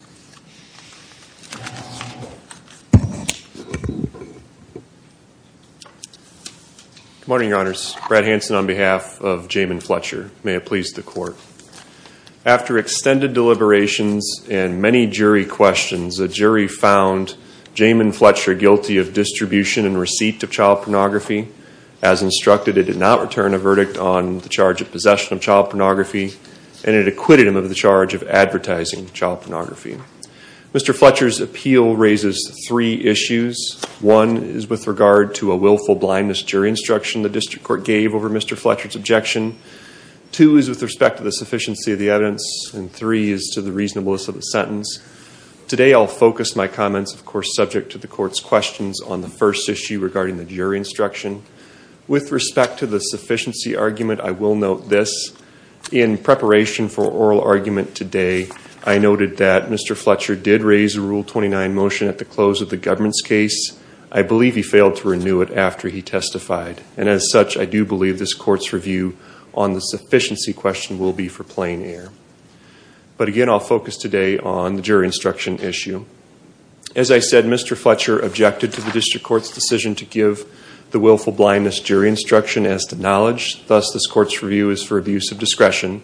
Good morning, your honors. Brad Hanson on behalf of Jamin Fletcher. May it please the court. After extended deliberations and many jury questions, the jury found Jamin Fletcher guilty of distribution and receipt of child pornography. As instructed, it did not return a verdict on the charge of possession of child pornography, and it acquitted him of the charge of advertising child pornography. Mr. Fletcher's appeal raises three issues. One is with regard to a willful blindness jury instruction the district court gave over Mr. Fletcher's objection. Two is with respect to the sufficiency of the evidence, and three is to the reasonableness of the sentence. Today, I'll focus my comments, of course, subject to the court's questions on the first issue regarding the jury instruction. With respect to the sufficiency argument, I will note this. In preparation for oral argument today, I noted that Mr. Fletcher did raise a Rule 29 motion at the close of the government's case. I believe he failed to renew it after he testified. And as such, I do believe this court's review on the sufficiency question will be for plain air. But again, I'll focus today on the jury instruction issue. As I said, Mr. Fletcher objected to the district court's decision to give the willful blindness jury instruction as to knowledge. Thus, this court's review is for abuse of discretion.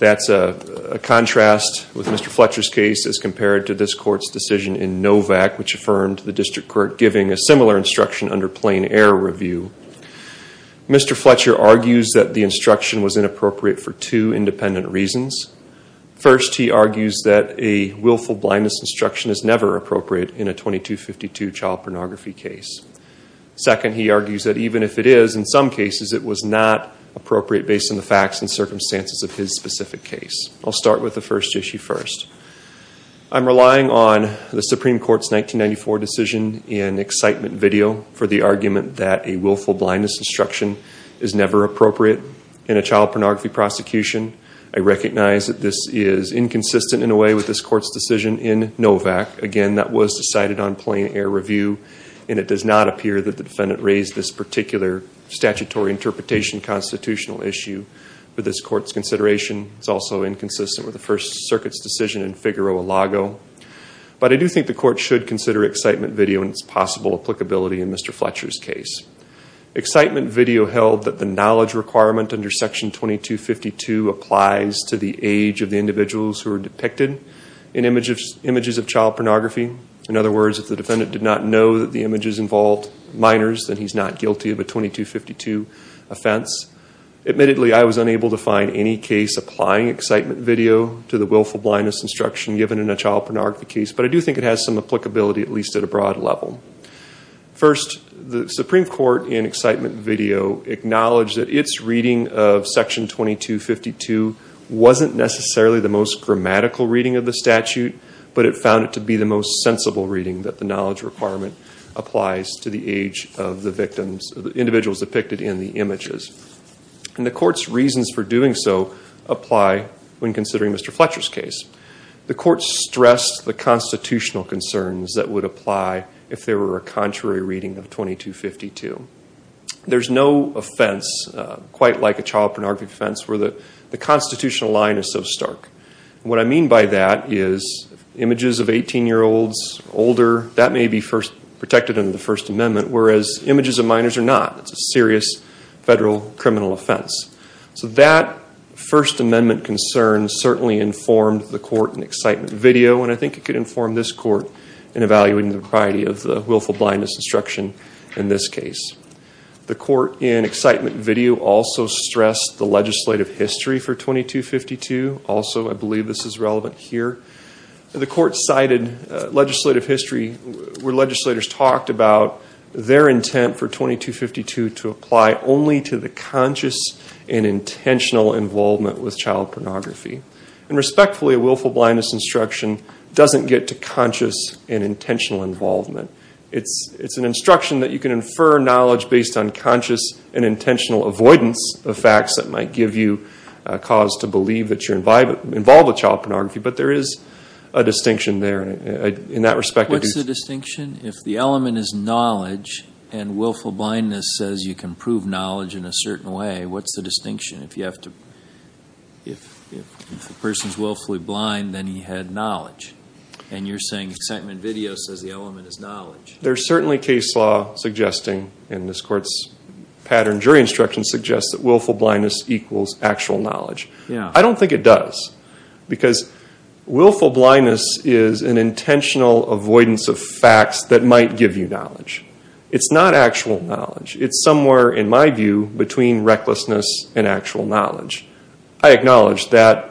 That's a contrast with Mr. Fletcher's case as compared to this court's decision in NOVAC, which affirmed the district court giving a similar instruction under plain air review. Mr. Fletcher argues that the instruction was inappropriate for two independent reasons. First, he argues that a willful blindness instruction is never appropriate in a 2252 child pornography case. Second, he argues that even if it is, in some cases, it was not appropriate based on the facts and circumstances of his specific case. I'll start with the first issue first. I'm relying on the Supreme Court's 1994 decision in excitement video for the argument that a willful blindness instruction is never appropriate in a child pornography prosecution. I recognize that this is inconsistent in a way with this court's decision in NOVAC. Again, that was decided on plain air review, and it does not appear that the defendant raised this particular statutory interpretation constitutional issue with this court's consideration. It's also inconsistent with the First Circuit's decision in Figueroa-Lago. But I do think the court should consider excitement video and its possible applicability in Mr. Fletcher's case. Excitement video held that the knowledge requirement under section 2252 applies to the age of the individuals who are depicted in images of child pornography. In other words, if the defendant did not know that the images involved minors, then he's not guilty of a 2252 offense. Admittedly, I was unable to find any case applying excitement video to the willful blindness instruction given in a child pornography case, but I do think it has some applicability, at least at a broad level. First, the Supreme Court's reading of section 2252 wasn't necessarily the most grammatical reading of the statute, but it found it to be the most sensible reading that the knowledge requirement applies to the age of the individuals depicted in the images. And the court's reasons for doing so apply when considering Mr. Fletcher's case. The court stressed the constitutional concerns that would apply if there were a contrary reading of 2252. There's no offense, quite like a child pornography offense, where the constitutional line is so stark. What I mean by that is images of 18-year-olds, older, that may be protected under the First Amendment, whereas images of minors are not. It's a serious federal criminal offense. So that First Amendment concern certainly informed the court in excitement video, and I think it could inform this court in evaluating the variety of the willful blindness instruction in this case. The court in excitement video also stressed the legislative history for 2252. Also, I believe this is relevant here. The court cited legislative history where legislators talked about their intent for 2252 to apply only to the conscious and intentional involvement with child pornography. And respectfully, a willful blindness instruction doesn't get to conscious and intentional involvement. It's an instruction that you can infer knowledge based on conscious and intentional avoidance of facts that might give you a cause to believe that you're involved with child pornography, but there is a distinction there. In that respect, I do... What's the distinction? If the element is knowledge and willful blindness says you can prove knowledge in a certain way, what's the distinction? If the person's willfully blind, then he had knowledge, and you're saying excitement video says the element is knowledge. There's certainly case law suggesting, and this court's pattern jury instruction suggests that willful blindness equals actual knowledge. I don't think it does, because willful blindness is an intentional avoidance of facts that might give you knowledge. It's not actual knowledge. It's somewhere, in my view, between recklessness and actual knowledge. I acknowledge that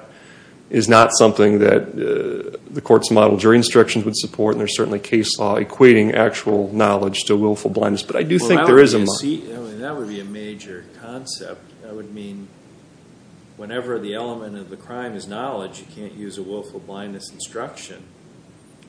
is not something that the court's model jury instruction would support, and there's certainly case law equating actual knowledge to willful blindness. But I do think there is a... That would be a major concept. I would mean whenever the element of the crime is knowledge, you can't use a willful blindness instruction.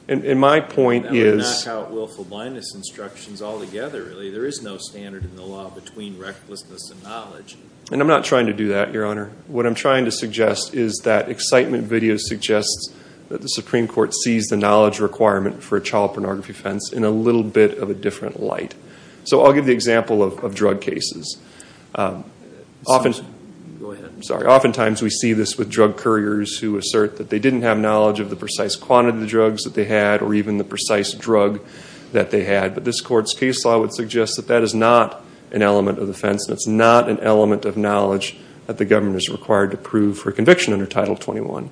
And my point is... That would knock out willful blindness instructions altogether, really. There is no standard in the law between recklessness and knowledge. And I'm not trying to do that, Your Honor. What I'm trying to suggest is that excitement video suggests that the Supreme Court sees the knowledge requirement for a child pornography offense in a little bit of a different light. So I'll give the example of drug cases. Go ahead. I'm sorry. Oftentimes we see this with drug couriers who assert that they didn't have knowledge of the precise quantity of the drugs that they had, or even the precise drug that they had. But this court's case law would suggest that that is not an element of the offense, and it's not an element of knowledge that the government is required to prove for conviction under Title 21.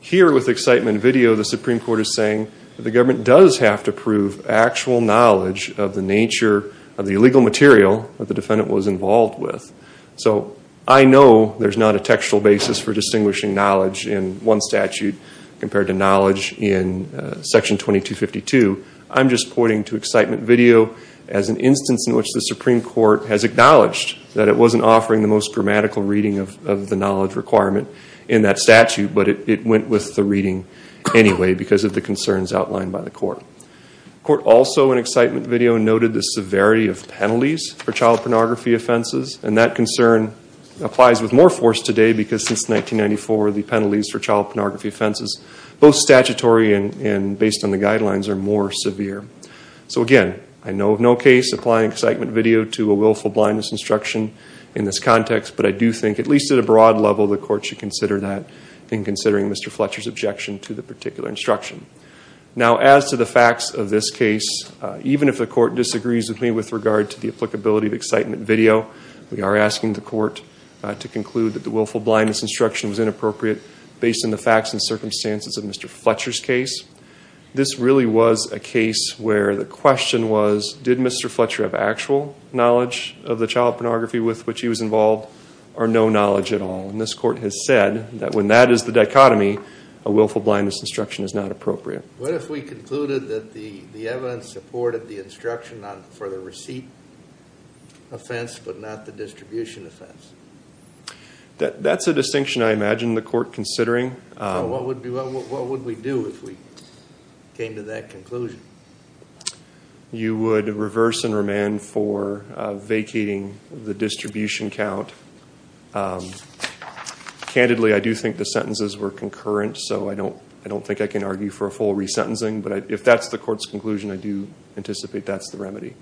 Here with excitement video, the Supreme Court is saying that the government does have to prove actual knowledge of the nature of the illegal material that the defendant was involved with. So I know there's not a textual basis for distinguishing knowledge in one statute compared to knowledge in Section 2252. I'm just pointing to excitement video as an instance in which the Supreme Court has acknowledged that it wasn't offering the most grammatical reading of the knowledge requirement in that statute, but it went with the reading anyway because of the concerns outlined by the court. The court also, in excitement video, noted the severity of penalties for child pornography offenses, and that concern applies with more force today because since 1994, the penalties for child pornography offenses, both statutory and based on the guidelines, are more severe. So again, I know of no case applying excitement video to a willful blindness instruction in this context, but I do think, at least at a broad level, the court should consider that in considering Mr. Fletcher's objection to the particular instruction. Now as to the facts of this case, even if the court disagrees with me with regard to the applicability of excitement video, we are asking the court to conclude that the based on the facts and circumstances of Mr. Fletcher's case, this really was a case where the question was, did Mr. Fletcher have actual knowledge of the child pornography with which he was involved, or no knowledge at all? And this court has said that when that is the dichotomy, a willful blindness instruction is not appropriate. What if we concluded that the evidence supported the instruction for the receipt offense but not the distribution offense? That's a distinction I imagine the court considering. So what would we do if we came to that conclusion? You would reverse and remand for vacating the distribution count. Candidly, I do think the sentences were concurrent, so I don't think I can argue for a full resentencing, but if that's the court's conclusion, I do anticipate that's the remedy.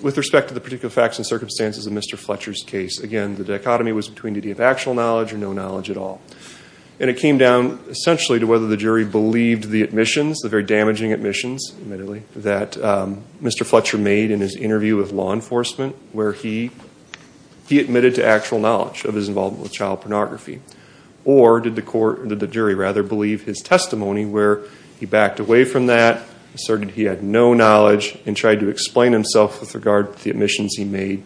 With respect to the particular facts and circumstances of Mr. Fletcher's case, again, the dichotomy was between did he have actual knowledge or no knowledge at all. And it came down essentially to whether the jury believed the admissions, the very damaging admissions, admittedly, that Mr. Fletcher made in his interview with law enforcement where he admitted to actual knowledge of his involvement with child pornography. Or did the jury rather believe his testimony where he backed away from that, asserted he had no knowledge, and tried to explain himself with regard to the admissions he made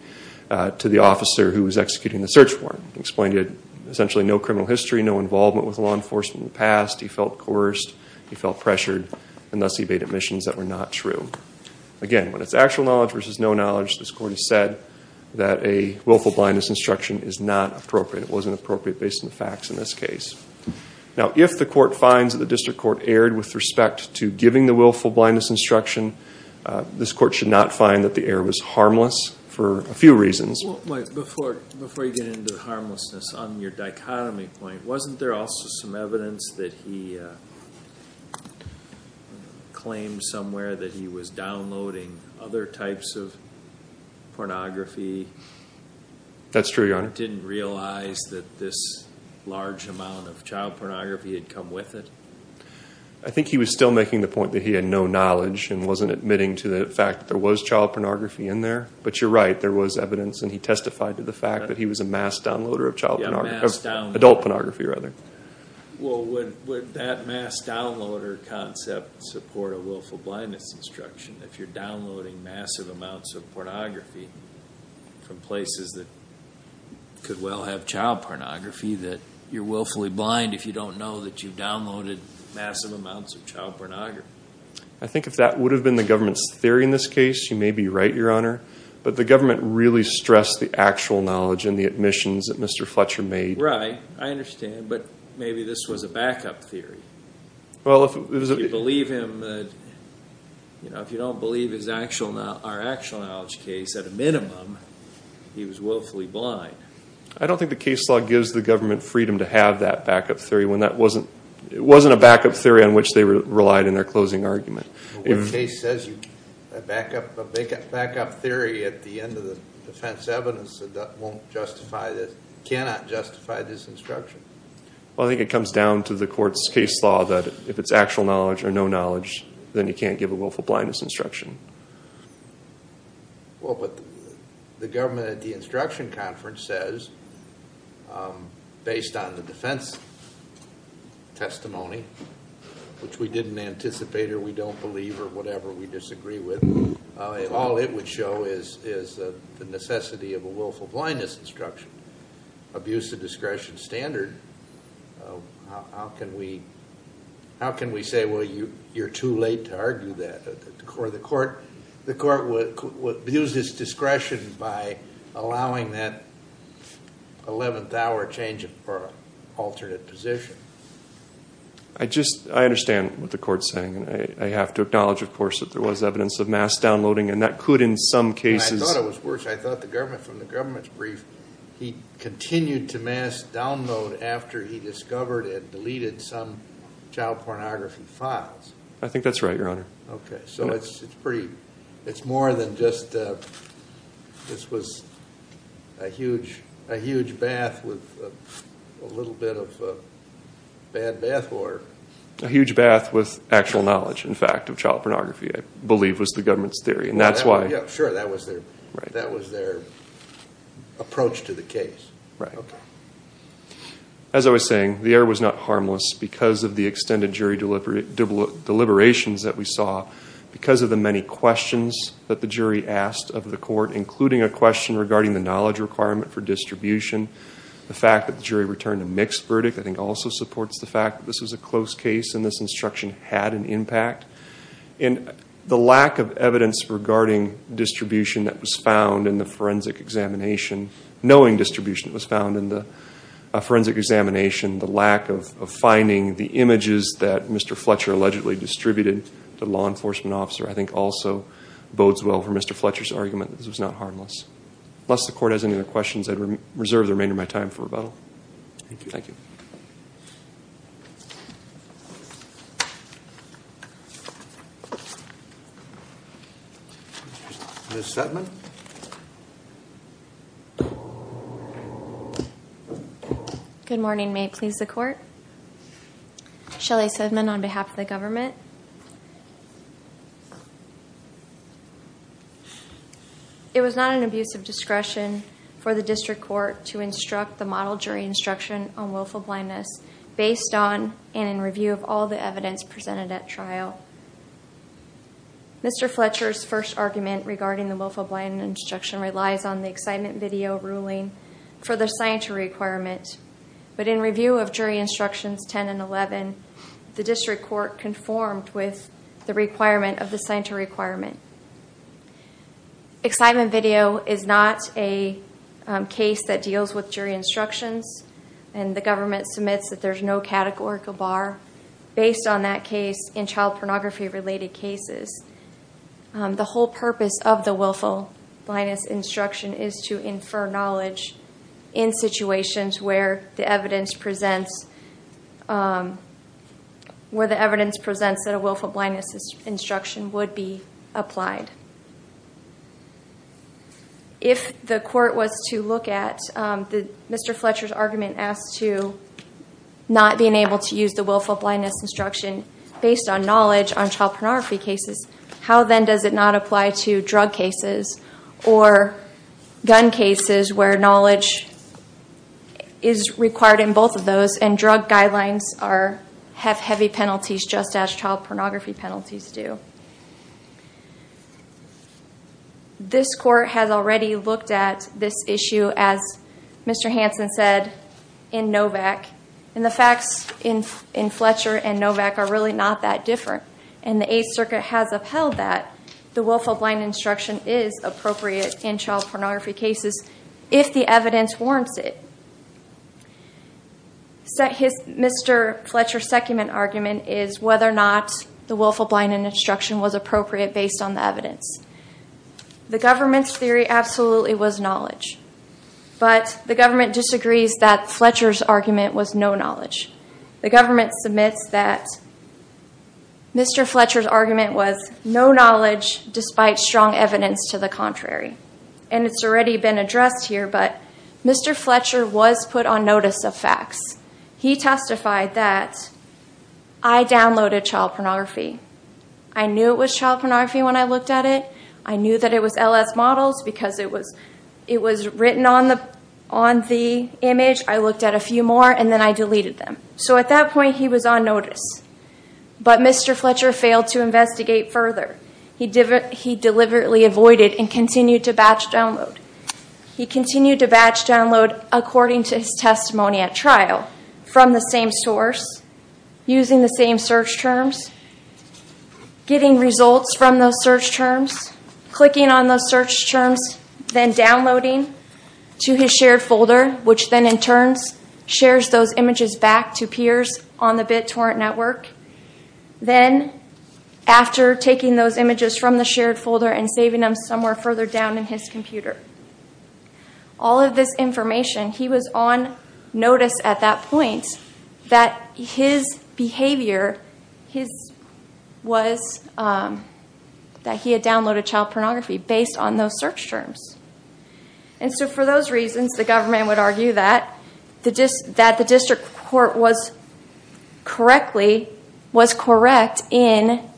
to the officer who was executing the search warrant. He explained he had essentially no criminal history, no involvement with law enforcement in the past. He felt coerced. He felt pressured. And thus he made admissions that were not true. Again, when it's actual knowledge versus no knowledge, this court has said that a willful blindness instruction is not appropriate. It wasn't appropriate based on the facts in this case. Now if the court finds that the district court erred with respect to giving the willful blindness instruction, this court should not find that the error was harmless for a few reasons. Before you get into the harmlessness, on your dichotomy point, wasn't there also some evidence that he claimed somewhere that he was downloading other types of pornography? That's true, Your Honor. Didn't realize that this large amount of child pornography had come with it? I think he was still making the point that he had no knowledge and wasn't admitting to the fact that there was child pornography in there. But you're right, there was evidence, and he testified to the fact that he was a mass downloader of adult pornography. Well, would that mass downloader concept support a willful blindness instruction? If you're downloading massive amounts of pornography from places that could well have child pornography. I think if that would have been the government's theory in this case, you may be right, Your Honor. But the government really stressed the actual knowledge and the admissions that Mr. Fletcher made. Right, I understand. But maybe this was a backup theory. If you don't believe our actual knowledge case, at a minimum, he was willfully blind. I don't think the case law gives the government freedom to have that backup theory when it wasn't a backup theory on which they relied in their closing argument. What case says a backup theory at the end of the defense evidence cannot justify this instruction? I think it comes down to the court's case law that if it's actual knowledge or no knowledge, then you can't give a willful blindness instruction. Well, but the government at the instruction conference says, based on the defense testimony, which we didn't anticipate or we don't believe or whatever we disagree with, all it would show is the necessity of a willful blindness instruction. Abuse of discretion standard, how can we say, well, you're too late to argue that? The court would abuse his discretion by allowing that 11th hour change for an alternate position. I understand what the court's saying. I have to acknowledge, of course, that there was evidence of mass downloading, and that could in some cases I thought it was worse. I thought from the government's brief, he continued to mass download after he discovered and deleted some child pornography files. I think that's right, Your Honor. Okay. So it's more than just this was a huge bath with a little bit of bad bath water. A huge bath with actual knowledge, in fact, of child pornography, I believe was the government's theory. And that's why. Sure, that was their approach to the case. Right. Okay. As I was saying, the error was not harmless because of the extended jury deliberations that we saw, because of the many questions that the jury asked of the court, including a question regarding the knowledge requirement for distribution. The fact that the jury returned a mixed verdict, I think, also supports the fact that this was a close case and this instruction had an impact. And the lack of evidence regarding distribution that was found in the forensic examination, knowing distribution was found in the forensic examination, the lack of finding the images that Mr. Fletcher allegedly distributed to the law enforcement officer, I think also bodes well for Mr. Fletcher's argument that this was not harmless. Unless the court has any other questions, I reserve the remainder of my time for rebuttal. Thank you. Thank you. Ms. Sedman? Good morning. May it please the court? Shelley Sedman on behalf of the government. It was not an abuse of discretion for the district court to instruct the model jury instruction on willful blindness based on and in review of all the evidence presented at trial. Mr. Fletcher's first argument regarding the willful blindness instruction relies on the excitement video ruling for the scienter requirement. But in review of jury instructions 10 and 11, the district court conformed with the requirement of the scienter requirement. Excitement video is not a case that deals with jury instructions, and the government submits that there's no categorical bar based on that case in child pornography-related cases. The whole purpose of the willful blindness instruction is to infer knowledge in situations where the evidence presents that a willful blindness instruction would be applied. If the court was to look at Mr. Fletcher's argument as to not being able to use the willful blindness instruction based on knowledge on child pornography cases, how then does it not apply to drug cases or gun cases where knowledge is required in both of those, and drug guidelines have heavy penalties just as child pornography penalties do? This court has already looked at this issue, as Mr. Hansen said, in NOVAC. And the facts in Fletcher and NOVAC are really not that different. And the Eighth Circuit has upheld that. The willful blindness instruction is appropriate in child pornography cases if the evidence warrants it. Mr. Fletcher's second argument is whether or not the willful blindness instruction was appropriate based on the evidence. The government's theory absolutely was knowledge, but the government disagrees that Fletcher's argument was no knowledge. The government submits that Mr. Fletcher's argument was no knowledge despite strong evidence to the contrary. And it's already been addressed here, but Mr. Fletcher was put on notice of facts. He testified that, I downloaded child pornography. I knew it was child pornography when I looked at it. I knew that it was LS models because it was written on the image. I looked at a few more, and then I deleted them. So at that point, he was on notice. But Mr. Fletcher failed to investigate further. He deliberately avoided and continued to batch download. He continued to batch download according to his testimony at trial from the same source, using the same search terms, getting results from those search terms, clicking on those search terms, then downloading to his shared folder, which then in turn shares those images back to peers on the BitTorrent network. Then, after taking those images from the shared folder and saving them somewhere further down in his computer, all of this information, he was on notice at that point that his behavior, that he had downloaded child pornography based on those search terms. And so for those reasons, the government would argue that the district court was correctly, was correct in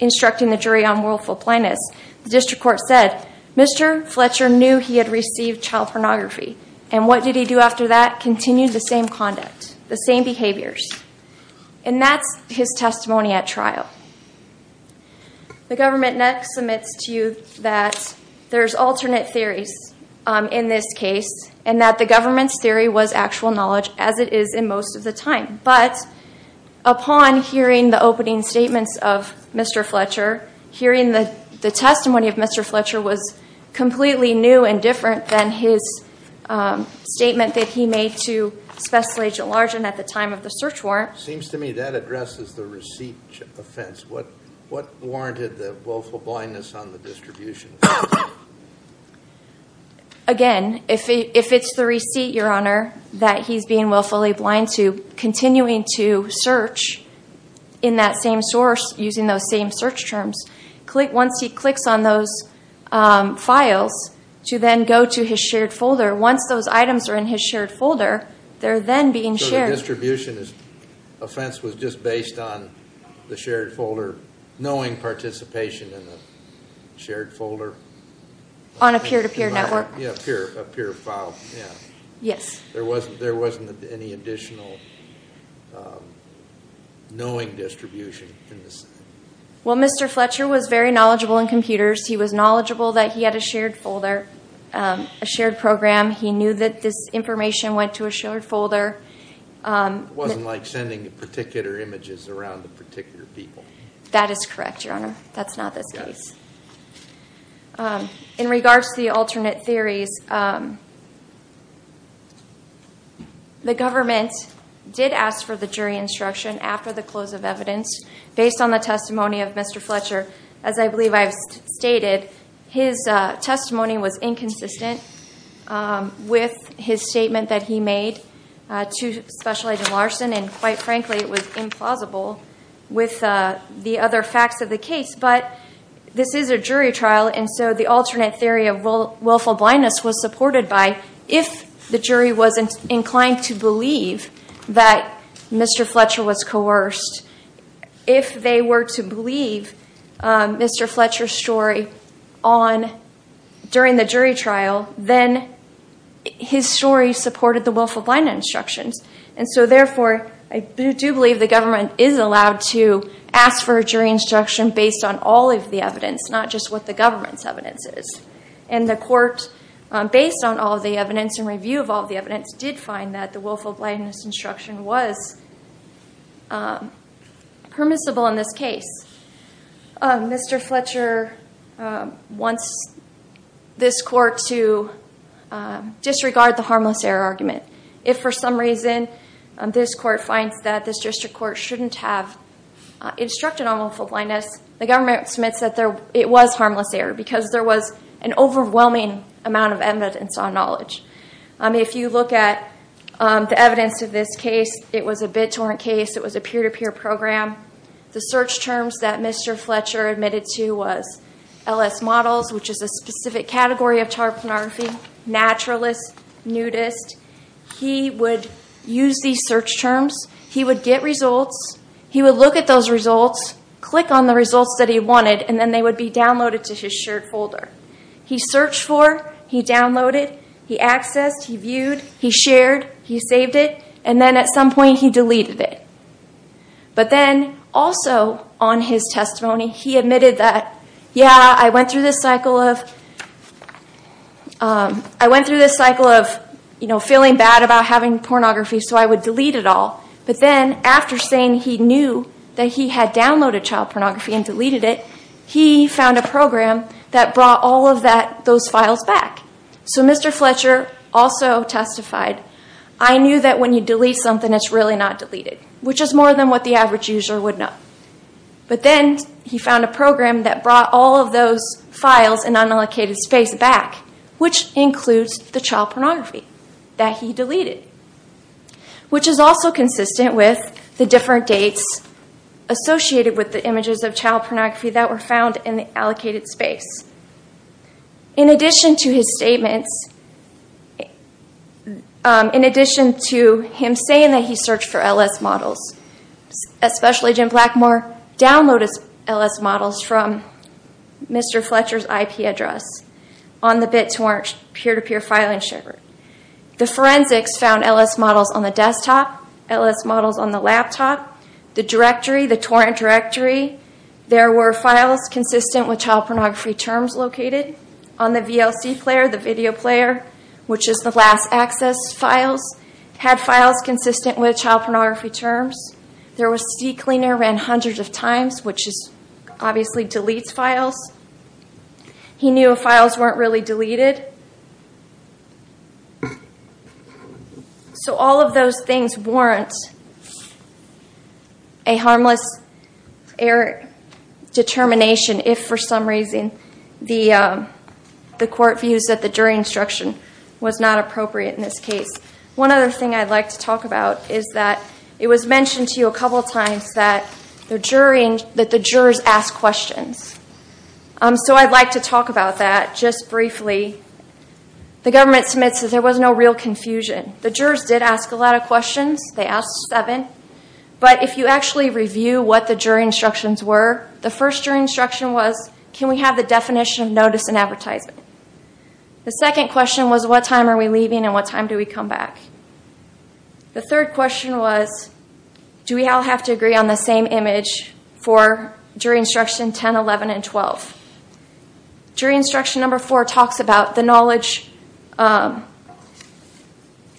instructing the jury on willful blindness. The district court said, Mr. Fletcher knew he had received child pornography. And what did he do after that? Continued the same conduct, the same behaviors. And that's his testimony at trial. The government next submits to you that there's alternate theories in this case, and that the government's theory was actual knowledge, as it is in most of the time. But upon hearing the opening statements of Mr. Fletcher, hearing the testimony of Mr. Fletcher was completely new and different than his statement that he made to Special Agent Largent at the time of the search warrant. It seems to me that addresses the receipt offense. What warranted the willful blindness on the distribution? Again, if it's the receipt, Your Honor, that he's being willfully blind to, continuing to search in that same source using those same search terms. Once he clicks on those files to then go to his shared folder, once those items are in his shared folder, they're then being shared. So the distribution offense was just based on the shared folder, knowing participation in the shared folder? On a peer-to-peer network. Yeah, a peer file. Yes. There wasn't any additional knowing distribution? Well, Mr. Fletcher was very knowledgeable in computers. He was knowledgeable that he had a shared folder, a shared program. He knew that this information went to a shared folder. It wasn't like sending particular images around to particular people. That is correct, Your Honor. That's not the case. In regards to the alternate theories, the government did ask for the jury instruction after the close of evidence. Based on the testimony of Mr. Fletcher, as I believe I've stated, his testimony was inconsistent with his statement that he made to Special Agent Larson, and, quite frankly, it was implausible with the other facts of the case. But this is a jury trial, and so the alternate theory of willful blindness was supported by, if the jury wasn't inclined to believe that Mr. Fletcher was coerced, if they were to believe Mr. Fletcher's story during the jury trial, then his story supported the willful blindness instructions. And so, therefore, I do believe the government is allowed to ask for a jury instruction based on all of the evidence, not just what the government's evidence is. And the court, based on all of the evidence and review of all of the evidence, did find that the willful blindness instruction was permissible in this case. Mr. Fletcher wants this court to disregard the harmless error argument. If, for some reason, this court finds that this district court shouldn't have instructed on willful blindness, the government submits that it was harmless error, because there was an overwhelming amount of evidence on knowledge. If you look at the evidence of this case, it was a BitTorrent case. It was a peer-to-peer program. The search terms that Mr. Fletcher admitted to was LS models, which is a specific category of tarpanography, naturalist, nudist. He would use these search terms. He would get results. He would look at those results, click on the results that he wanted, and then they would be downloaded to his shared folder. He searched for it. He downloaded it. He accessed it. He viewed it. He shared it. He saved it. And then, at some point, he deleted it. But then, also on his testimony, he admitted that, yeah, I went through this cycle of feeling bad about having pornography, so I would delete it all. But then, after saying he knew that he had downloaded child pornography and deleted it, he found a program that brought all of those files back. So Mr. Fletcher also testified, I knew that when you delete something, it's really not deleted, which is more than what the average user would know. But then he found a program that brought all of those files in unallocated space back, which includes the child pornography that he deleted, which is also consistent with the different dates associated with the images of child pornography that were found in the allocated space. In addition to his statements, in addition to him saying that he searched for L.S. models, especially Jim Blackmore downloaded L.S. models from Mr. Fletcher's IP address on the BitTorrent peer-to-peer filing server, the forensics found L.S. models on the desktop, L.S. models on the laptop, the directory, the torrent directory. There were files consistent with child pornography terms located. On the VLC player, the video player, which is the last access files, had files consistent with child pornography terms. There was CCleaner ran hundreds of times, which obviously deletes files. He knew files weren't really deleted. So all of those things weren't a harmless error determination if for some reason the court views that the jury instruction was not appropriate in this case. One other thing I'd like to talk about is that it was mentioned to you a couple of times that the jurors ask questions. So I'd like to talk about that just briefly. The government submits that there was no real confusion. The jurors did ask a lot of questions. They asked seven. But if you actually review what the jury instructions were, the first jury instruction was, can we have the definition of notice and advertisement? The second question was, what time are we leaving and what time do we come back? The third question was, do we all have to agree on the same image for jury instruction 10, 11, and 12? Jury instruction number four talks about the knowledge that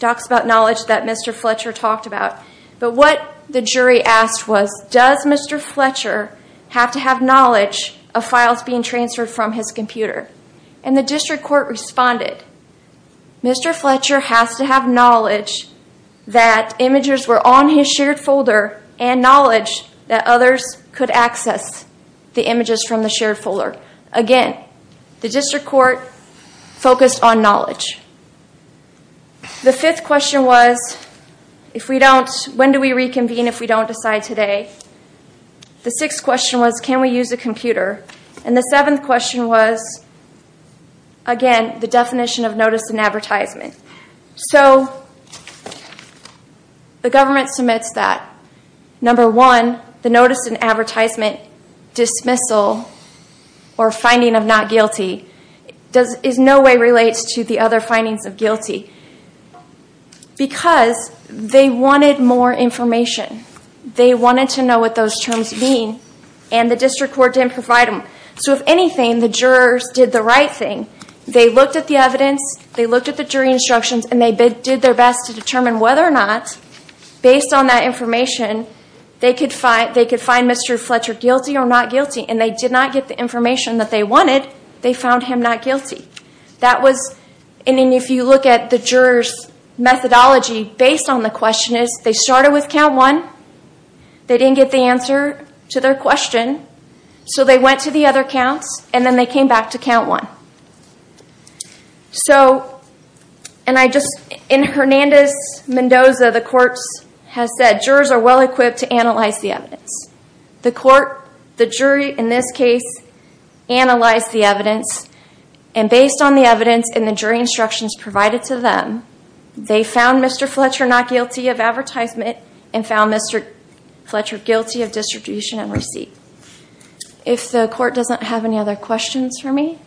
Mr. Fletcher talked about. But what the jury asked was, does Mr. Fletcher have to have knowledge of files being transferred from his computer? And the district court responded, Mr. Fletcher has to have knowledge that images were on his shared folder and knowledge that others could access the images from the shared folder. Again, the district court focused on knowledge. The fifth question was, when do we reconvene if we don't decide today? The sixth question was, can we use a computer? And the seventh question was, again, the definition of notice and advertisement. So, the government submits that. Number one, the notice and advertisement dismissal or finding of not guilty, in no way relates to the other findings of guilty because they wanted more information. They wanted to know what those terms mean and the district court didn't provide them. So if anything, the jurors did the right thing. They looked at the evidence, they looked at the jury instructions and they did their best to determine whether or not, based on that information, they could find Mr. Fletcher guilty or not guilty and they did not get the information that they wanted, they found him not guilty. And if you look at the jurors' methodology, based on the question is, they started with count one, they didn't get the answer to their question, so they went to the other counts and then they came back to count one. So, and I just, in Hernandez-Mendoza, the courts has said, jurors are well equipped to analyze the evidence. The court, the jury, in this case, analyzed the evidence and based on the evidence and the jury instructions provided to them, they found Mr. Fletcher not guilty of advertisement and found Mr. Fletcher guilty of distribution and receipt. If the court doesn't have any other questions for me.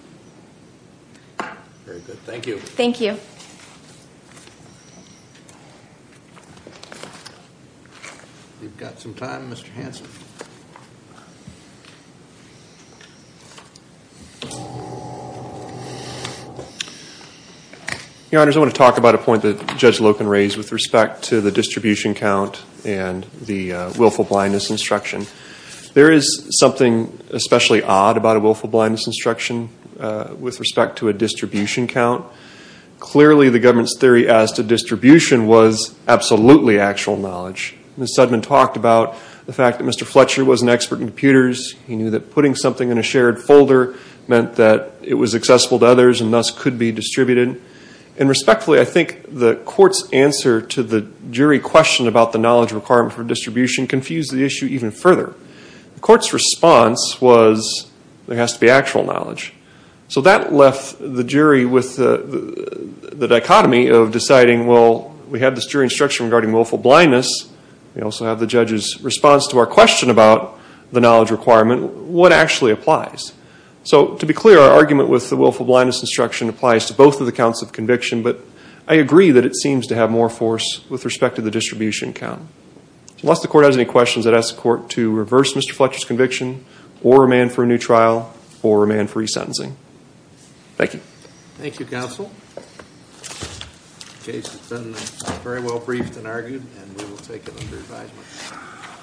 Very good. Thank you. Thank you. We've got some time, Mr. Hanson. Your Honors, I want to talk about a point that Judge Loken raised with respect to the distribution count and the willful blindness instruction. There is something especially odd about a willful blindness instruction with respect to a distribution count. Clearly, the government's theory as to distribution was absolutely actual knowledge. Ms. Sudman talked about the fact that Mr. Fletcher was an expert in computers. He knew that putting something in a shared folder meant that it was accessible to others and thus could be distributed. And respectfully, I think the court's answer to the jury question about the knowledge requirement for distribution confused the issue even further. The court's response was there has to be actual knowledge. So that left the jury with the dichotomy of deciding, well, we have this jury instruction regarding willful blindness. We also have the judge's response to our question about the knowledge requirement. What actually applies? So to be clear, our argument with the willful blindness instruction applies to both of the counts of conviction, but I agree that it seems to have more force with respect to the distribution count. Unless the court has any questions, I'd ask the court to reverse Mr. Fletcher's conviction or remand for a new trial or remand for resentencing. Thank you. Thank you, counsel. The case has been very well briefed and argued and we will take it under advisement.